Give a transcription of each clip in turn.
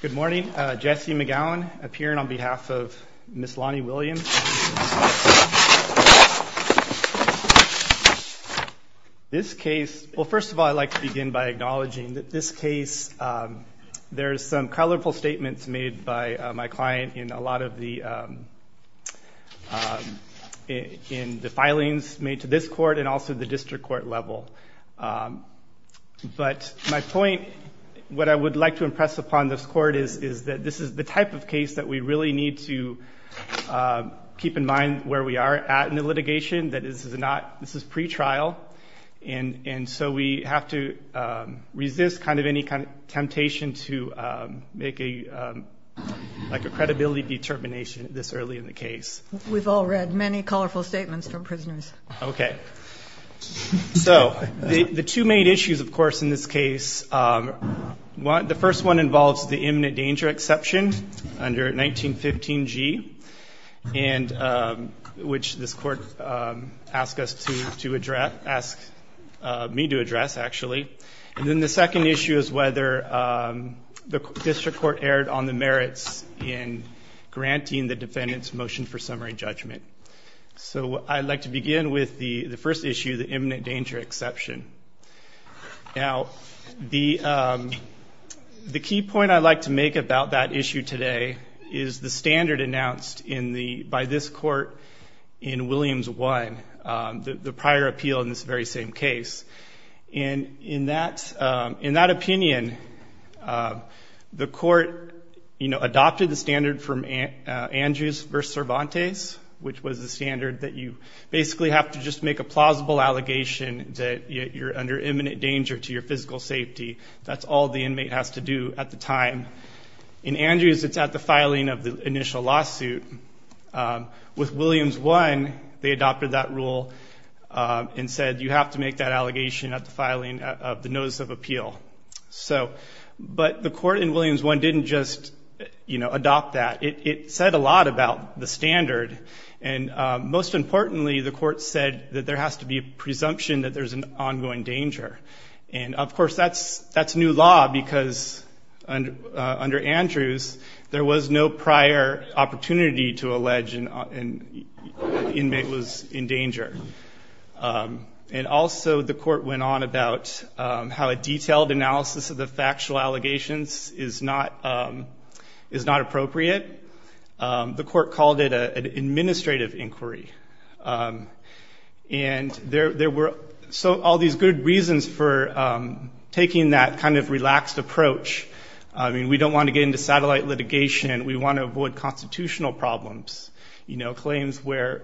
Good morning. Jesse McGowan, appearing on behalf of Ms. Lonnie Williams. This case, well, first of all, I'd like to begin by acknowledging that this case, there is some colorful statements made by my client in a lot of the filings made to this court and also the district court level. But my point, what I would like to impress upon this court is that this is the type of case that we really need to keep in mind where we are at in the litigation, that this is pre-trial. And so we have to resist any temptation to make a credibility determination this early in the case. We've all read many colorful statements from prisoners. OK. All right. So the two main issues, of course, in this case, the first one involves the imminent danger exception under 1915 G, which this court asked me to address, actually. And then the second issue is whether the district court erred on the merits in granting the defendant's motion for summary judgment. So I'd like to begin with the first issue, the imminent danger exception. Now, the key point I'd like to make about that issue today is the standard announced by this court in Williams 1, the prior appeal in this very same case. And in that opinion, the court adopted the standard from Andrews versus Cervantes, which was the standard that you basically have to just make a plausible allegation that you're under imminent danger to your physical safety. That's all the inmate has to do at the time. In Andrews, it's at the filing of the initial lawsuit. With Williams 1, they adopted that rule and said you have to make that allegation at the filing of the notice of appeal. So but the court in Williams 1 didn't just adopt that. It said a lot about the standard. And most importantly, the court said that there has to be a presumption that there's an ongoing danger. And of course, that's new law, because under Andrews, there was no prior opportunity to allege an inmate was in danger. And also, the court went on about how a detailed analysis of the factual allegations is not appropriate. The court called it an administrative inquiry. And there were all these good reasons for taking that kind of relaxed approach. I mean, we don't want to get into satellite litigation. We want to avoid constitutional problems, claims where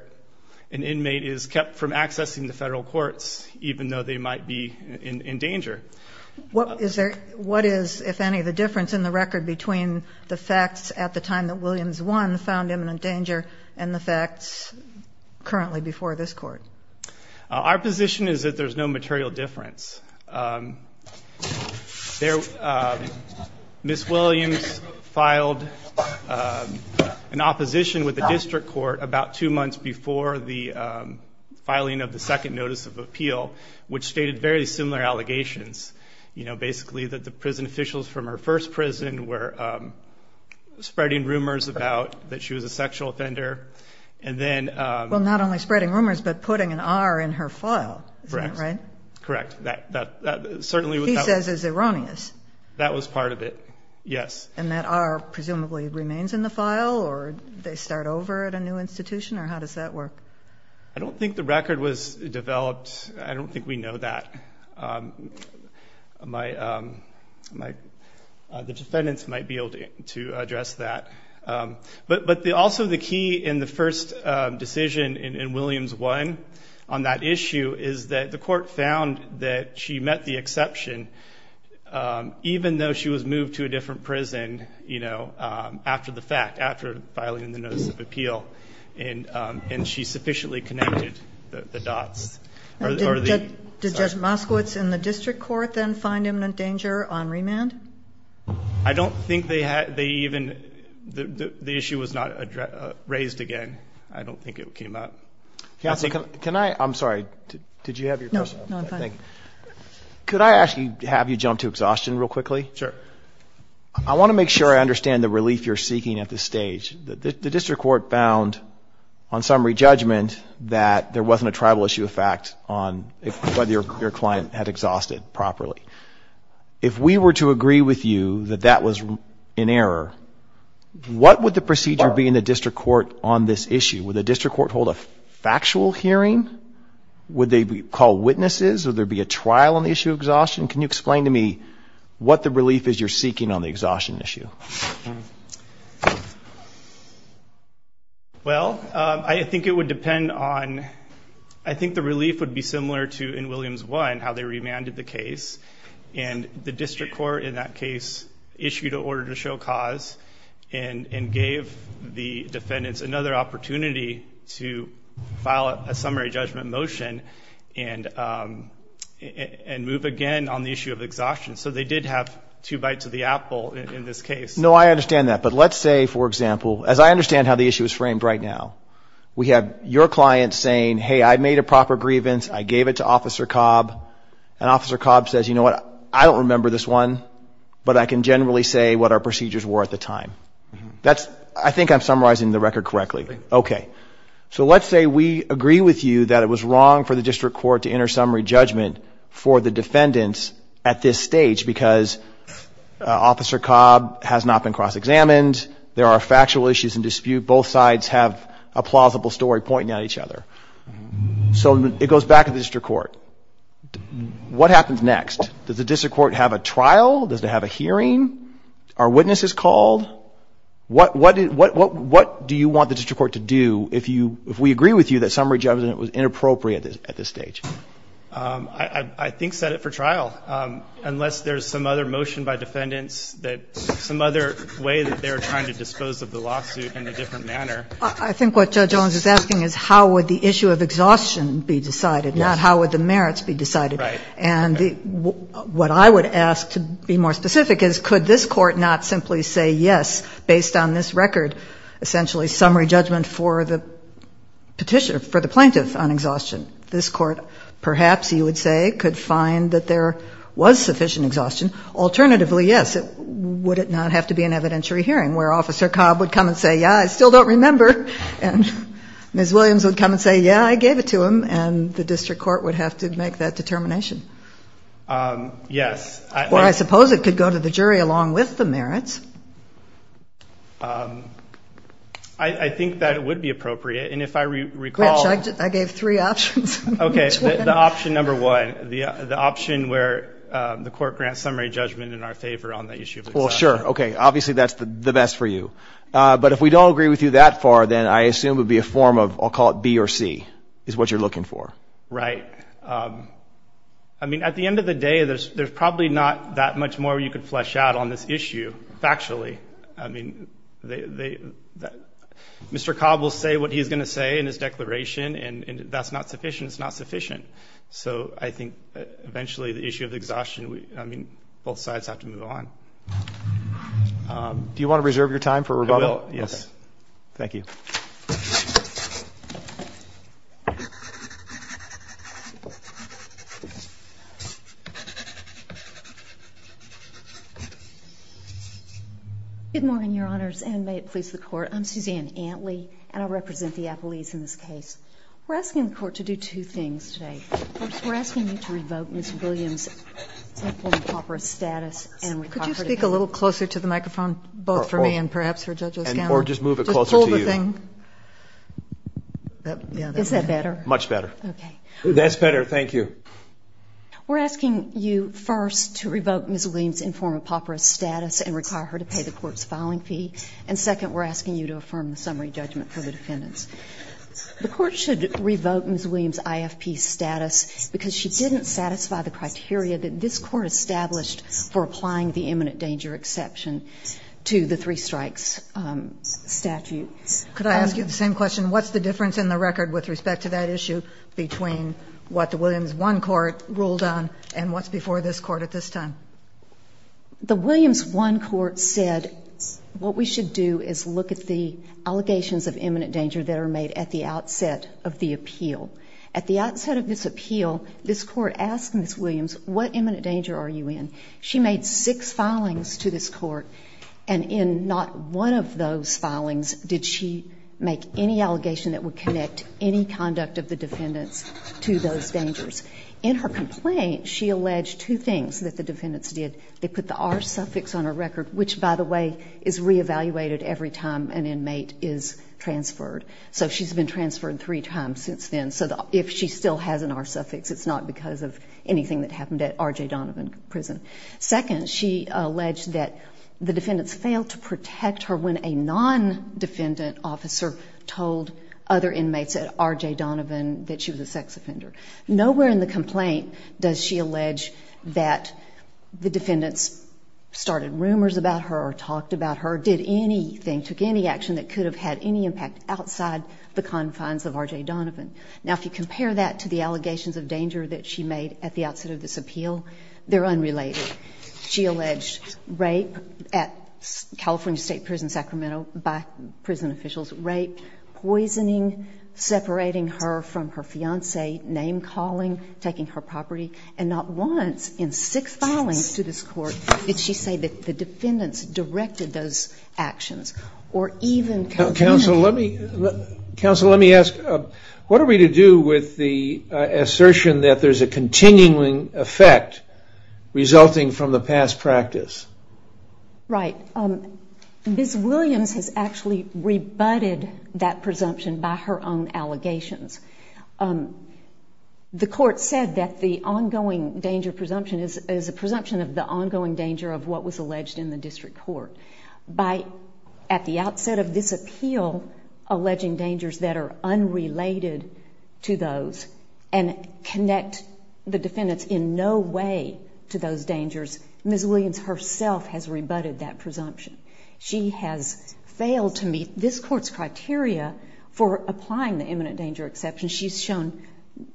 an inmate is kept from accessing the federal courts, even though they might be in danger. What is, if any, the difference in the record between the facts at the time that Williams 1 found imminent danger and the facts currently before this court? Our position is that there's no material difference. Ms. Williams filed an opposition with the district court about two months before the filing of the second notice of appeal, which stated very similar allegations. Basically, that the prison officials from her first prison were spreading rumors about that she was a sexual offender. And then, Well, not only spreading rumors, but putting an R in her file. Correct. Correct. Certainly. He says it's erroneous. That was part of it. Yes. And that R presumably remains in the file, or they start over at a new institution, or how does that work? I don't think the record was developed. I don't think we know that. The defendants might be able to address that. But also, the key in the first decision in Williams 1 on that issue is that the court found that she met the exception, even though she was moved to a different prison after the fact, after filing the notice of appeal. And she sufficiently connected the dots. Did Judge Moskowitz and the district court then find imminent danger on remand? I don't think they even, the issue was not raised again. I don't think it came up. Can I, I'm sorry, did you have your question? No, I'm fine. Could I ask you, have you jump to exhaustion real quickly? Sure. I want to make sure I understand the relief you're seeking at this stage. The district court found, on summary judgment, that there wasn't a tribal issue of fact on whether your client had exhausted properly. If we were to agree with you that that was an error, what would the procedure be in the district court on this issue? Would the district court hold a factual hearing? Would they call witnesses? Would there be a trial on the issue of exhaustion? Can you explain to me what the relief is you're seeking on the exhaustion issue? Well, I think it would depend on, I think the relief would be similar to in Williams 1, how they remanded the case. And the district court, in that case, issued an order to show cause and gave the defendants another opportunity to file a summary judgment motion and move again on the issue of exhaustion. So they did have two bites of the apple in this case. No, I understand that. But let's say, for example, as I understand how the issue is framed right now, we have your client saying, hey, I made a proper grievance. I gave it to Officer Cobb. And Officer Cobb says, you know what? I don't remember this one. But I can generally say what our procedures were at the time. I think I'm summarizing the record correctly. OK. So let's say we agree with you that it was wrong for the district court to enter summary judgment for the defendants at this stage because Officer Cobb has not been cross-examined. There are factual issues in dispute. Both sides have a plausible story pointing out each other. So it goes back to the district court. What happens next? Does the district court have a trial? Does it have a hearing? Are witnesses called? What do you want the district court to do if we agree with you that summary judgment was inappropriate at this stage? I think set it for trial, unless there's some other motion by defendants, some other way that they're trying to dispose of the lawsuit in a different manner. I think what Judge Owens is asking is how would the issue of exhaustion be decided, not how would the merits be decided. And what I would ask to be more specific is could this court not simply say yes, based on this record, essentially summary judgment for the plaintiff on exhaustion. This court, perhaps, you would say, could find that there was sufficient exhaustion. Alternatively, yes. Would it not have to be an evidentiary hearing where Officer Cobb would come and say, yeah, I still don't remember. And Ms. Williams would come and say, yeah, I gave it to him. And the district court would have to make that determination. Yes. Or I suppose it could go to the jury along with the merits. I think that it would be appropriate. And if I recall. I gave three options. OK, the option number one, the option where the court grants summary judgment in our favor on the issue of exhaustion. OK, obviously that's the best for you. But if we don't agree with you that far, then I assume it would be a form of, I'll call it B or C, is what you're looking for. Right. I mean, at the end of the day, there's probably not that much more you could flesh out on this issue factually. I mean, Mr. Cobb will say what he's going to say in his declaration. And that's not sufficient. It's not sufficient. So I think eventually the issue of exhaustion, I mean, both sides have to move on. Do you want to reserve your time for rebuttal? I will, yes. Thank you. Good morning, Your Honors, and may it please the court. I'm Suzanne Antley, and I represent the appellees in this case. We're asking the court to do two things today. First, we're asking you to revoke Ms. Williams' unlawful and impoperous status. Could you speak a little closer to the microphone, both for me and perhaps for Judge O'Scannell? Or just move it closer to you. Just pull the thing. Is that better? Much better. OK. That's better. Thank you. We're asking you, first, to revoke Ms. Williams' informed impoperous status and require her to pay the court's filing fee. And second, we're asking you to affirm the summary judgment for the defendants. The court should revoke Ms. Williams' IFP status because she didn't satisfy the criteria that this court established for applying the imminent danger exception to the three strikes statute. Could I ask you the same question? What's the difference in the record with respect to that issue between what the Williams 1 court ruled on and what's before this court at this time? The Williams 1 court said, what we should do is look at the allegations of imminent danger that are made at the outset of the appeal. At the outset of this appeal, this court asked Ms. Williams, what imminent danger are you in? She made six filings to this court. And in not one of those filings did she make any allegation that would connect any conduct of the defendants to those dangers. In her complaint, she alleged two things that the defendants did. They put the R suffix on her record, which, by the way, is re-evaluated every time an inmate is transferred. So she's been transferred three times since then. So if she still has an R suffix, it's not because of anything that happened at RJ Donovan Prison. Second, she alleged that the defendants failed to protect her when a non-defendant officer told other inmates at RJ Donovan that she was a sex offender. Nowhere in the complaint does she allege that the defendants started rumors about her or talked about her, did anything, took any action that could have had any impact outside the confines of RJ Donovan. Now, if you compare that to the allegations of danger that she made at the outset of this appeal, they're unrelated. She alleged rape at California State Prison, Sacramento, by prison officials, rape, poisoning, separating her from her fiance, name calling, taking her property. And not once in six filings to this court did she say that the defendants directed those actions or even complained. Counsel, let me ask, what are we to do with the assertion that there's a continuing effect resulting from the past practice? Right. Ms. Williams has actually rebutted that presumption by her own allegations. The court said that the ongoing danger presumption is a presumption of the ongoing danger of what was alleged in the district court. At the outset of this appeal, alleging dangers that are unrelated to those and connect the defendants in no way to those dangers, Ms. Williams herself has rebutted that presumption. She has failed to meet this court's criteria for applying the imminent danger exception. She's shown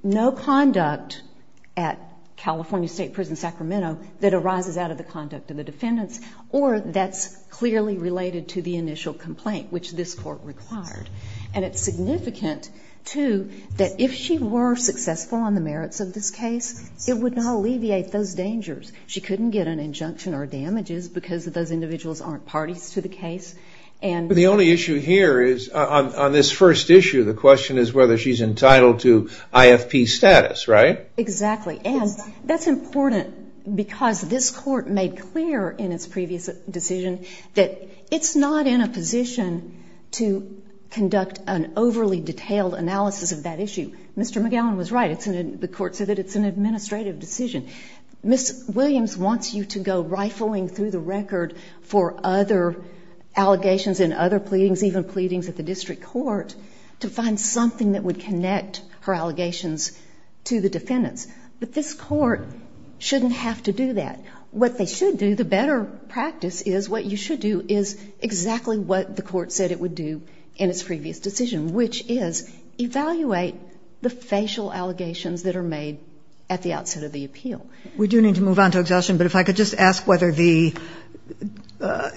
no conduct at California State Prison, Sacramento, that arises out of the conduct of the defendants, or that's clearly related to the initial complaint, which this court required. And it's significant, too, that if she were successful on the merits of this case, it would not alleviate those dangers. She couldn't get an injunction or damages because those individuals aren't parties to the case. But the only issue here is, on this first issue, the question is whether she's entitled to IFP status, right? Exactly. And that's important because this court made clear in its previous decision that it's not in a position to conduct an overly detailed analysis of that issue. Mr. McGowan was right. The court said that it's an administrative decision. Ms. Williams wants you to go rifling through the record for other allegations and other pleadings, even pleadings at the district court, to find something that would connect her allegations to the defendants. But this court shouldn't have to do that. What they should do, the better practice is, what you should do is exactly what the court said it would do in its previous decision, which is evaluate the facial allegations that are made at the outset of the appeal. We do need to move on to exhaustion, but if I could just ask whether the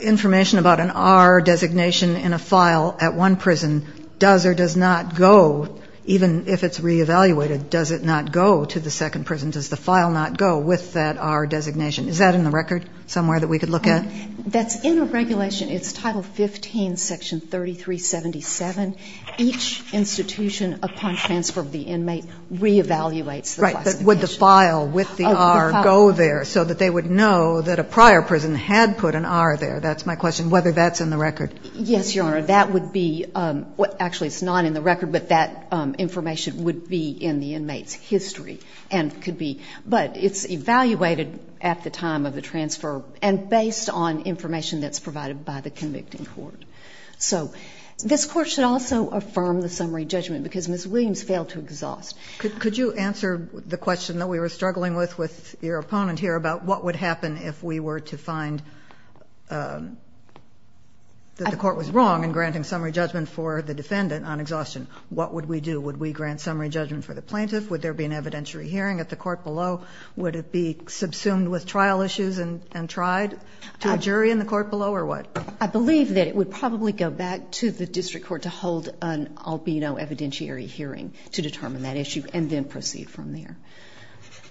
information about an R designation in a file at one prison does or does not go, even if it's re-evaluated, does it not go to the second prison? Does the file not go with that R designation? Is that in the record somewhere that we could look at? That's in the regulation. It's Title 15, Section 3377. Each institution, upon transfer of the inmate, re-evaluates the classification. Would the file with the R go there so that they would know that a prior prison had put an R there? That's my question, whether that's in the record. Yes, Your Honor. That would be, actually it's not in the record, but that information would be in the inmate's history. But it's evaluated at the time of the transfer and based on information that's provided by the convicting court. So this court should also affirm the summary judgment because Ms. Williams failed to exhaust. Could you answer the question that we were struggling with with your opponent here about what would happen if we were to find that the court was wrong in granting summary judgment for the defendant on exhaustion? What would we do? Would we grant summary judgment for the plaintiff? Would there be an evidentiary hearing at the court below? Would it be subsumed with trial issues and tried to a jury in the court below, or what? I believe that it would probably go back to the district court to hold an albino evidentiary hearing to determine that issue and then proceed from there.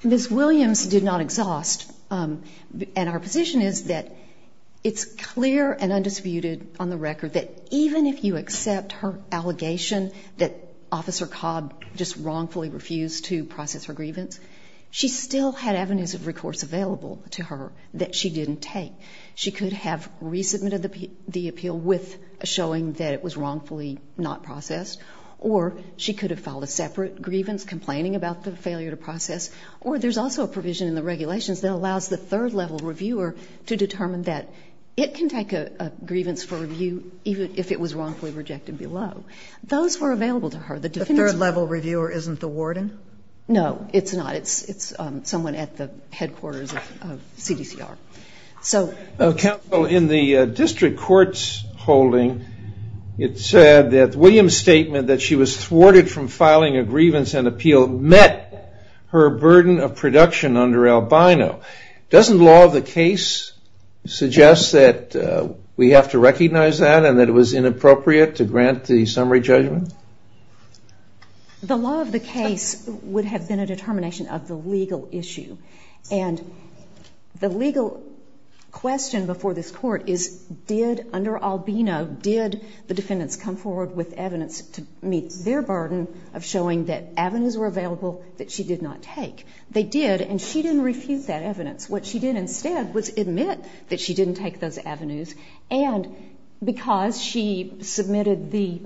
Ms. Williams did not exhaust. And our position is that it's clear and undisputed on the record that even if you accept her allegation that Officer Cobb just wrongfully refused to process her grievance, she still had avenues of recourse available to her that she didn't take. She could have resubmitted the appeal with showing that it was wrongfully not processed, or she could have filed a separate grievance complaining about the failure to process. Or there's also a provision in the regulations that allows the third-level reviewer to determine that it can take a grievance for review even if it was wrongfully rejected below. Those were available to her. The third-level reviewer isn't the warden? No, it's not. It's someone at the headquarters of CDCR. So counsel, in the district court's holding, it said that Williams' statement that she was thwarted from filing a grievance and appeal met her burden of production under albino. Doesn't law of the case suggest that we have to recognize that and that it was inappropriate to grant the summary judgment? The law of the case would have been a determination of the legal issue. And the legal question before this court is, did, under albino, did the defendants come forward with evidence to meet their burden of showing that avenues were available that she did not take? They did, and she didn't refuse that evidence. What she did instead was admit that she didn't take those avenues. And because she submitted the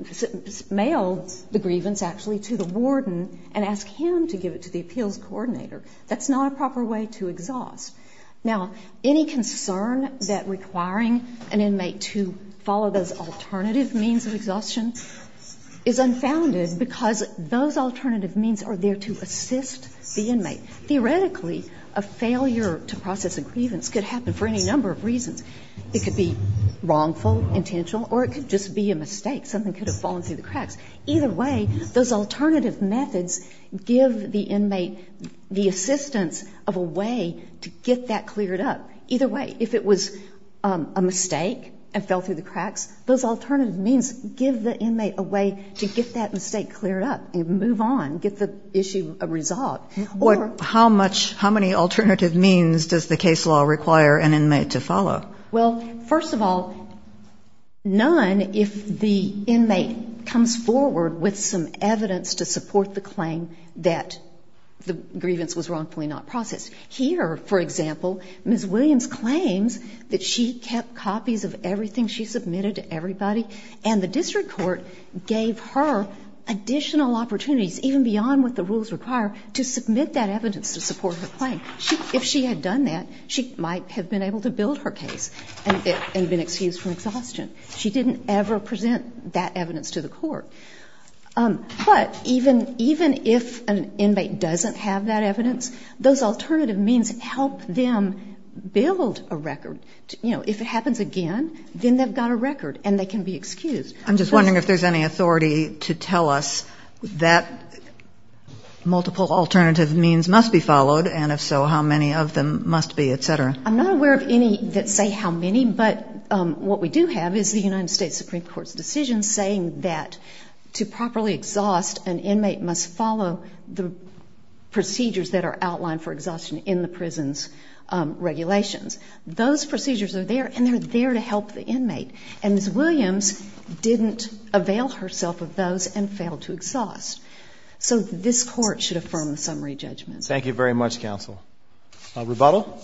mail, the grievance actually, to the warden and asked him to give it to the appeals coordinator. That's not a proper way to exhaust. Now, any concern that requiring an inmate to follow those alternative means of exhaustion is unfounded because those alternative means are there to assist the inmate. Theoretically, a failure to process a grievance could happen for any number of reasons. It could be wrongful, intentional, or it could just be a mistake. Something could have fallen through the cracks. Either way, those alternative methods give the inmate the assistance of a way to get that cleared up. Either way, if it was a mistake and fell through the cracks, those alternative means give the inmate a way to get that mistake cleared up and move on, get the issue resolved. How many alternative means does the case law require an inmate to follow? Well, first of all, none if the inmate comes forward with some evidence to support the claim that the grievance was wrongfully not processed. Here, for example, Ms. Williams claims that she kept copies of everything she submitted to everybody. And the district court gave her additional opportunities, even beyond what the rules require, to submit that evidence to support her claim. If she had done that, she might have been able to build her case and been excused from exhaustion. She didn't ever present that evidence to the court. But even if an inmate doesn't have that evidence, those alternative means help them build a record. If it happens again, then they've got a record and they can be excused. I'm just wondering if there's any authority to tell us that multiple alternative means must be followed, and if so, how many of them must be, et cetera. I'm not aware of any that say how many, but what we do have is the United States Supreme Court's decision saying that to properly exhaust, an inmate must follow the procedures that are outlined for exhaustion in the prison's regulations. Those procedures are there, and they're there to help the inmate. And Ms. Williams didn't avail herself of those and failed to exhaust. So this court should affirm the summary judgment. Thank you very much, counsel. Rebuttal? Rebuttal.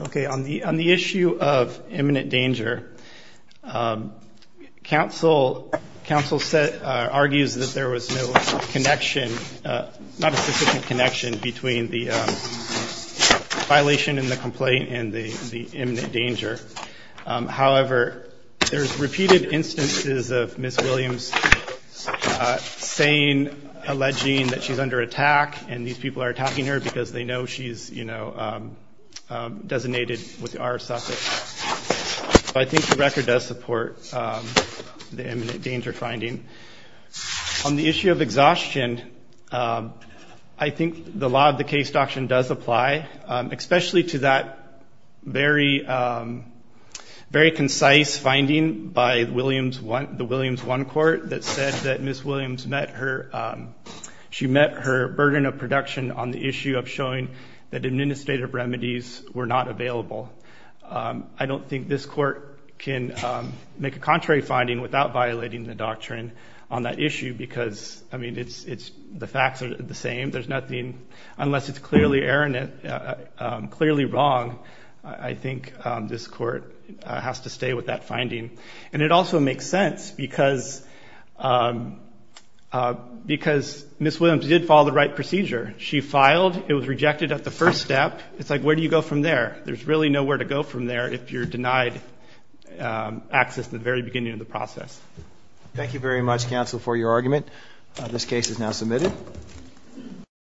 OK, on the issue of imminent danger, counsel argues that there was no connection, not a sufficient connection, between the violation in the complaint and the imminent danger. However, there's repeated instances of Ms. Williams saying, alleging that she's under attack, and these people are attacking her because they know she's designated with the R suffix. I think the record does support the imminent danger finding. On the issue of exhaustion, I think the law of the case doctrine does apply, especially to that very concise finding by the Williams I court that said that Ms. Williams met her burden of production on the issue of showing that administrative remedies were not available. I don't think this court can make a contrary finding without violating the doctrine on that issue, because the facts are the same. Unless it's clearly errant, clearly wrong, I think this court has to stay with that finding. And it also makes sense, because Ms. Williams did follow the right procedure. She filed. It was rejected at the first step. It's like, where do you go from there? There's really nowhere to go from there if you're denied access at the very beginning of the process. Thank you very much, counsel, for your argument. This case is now submitted. Thank you.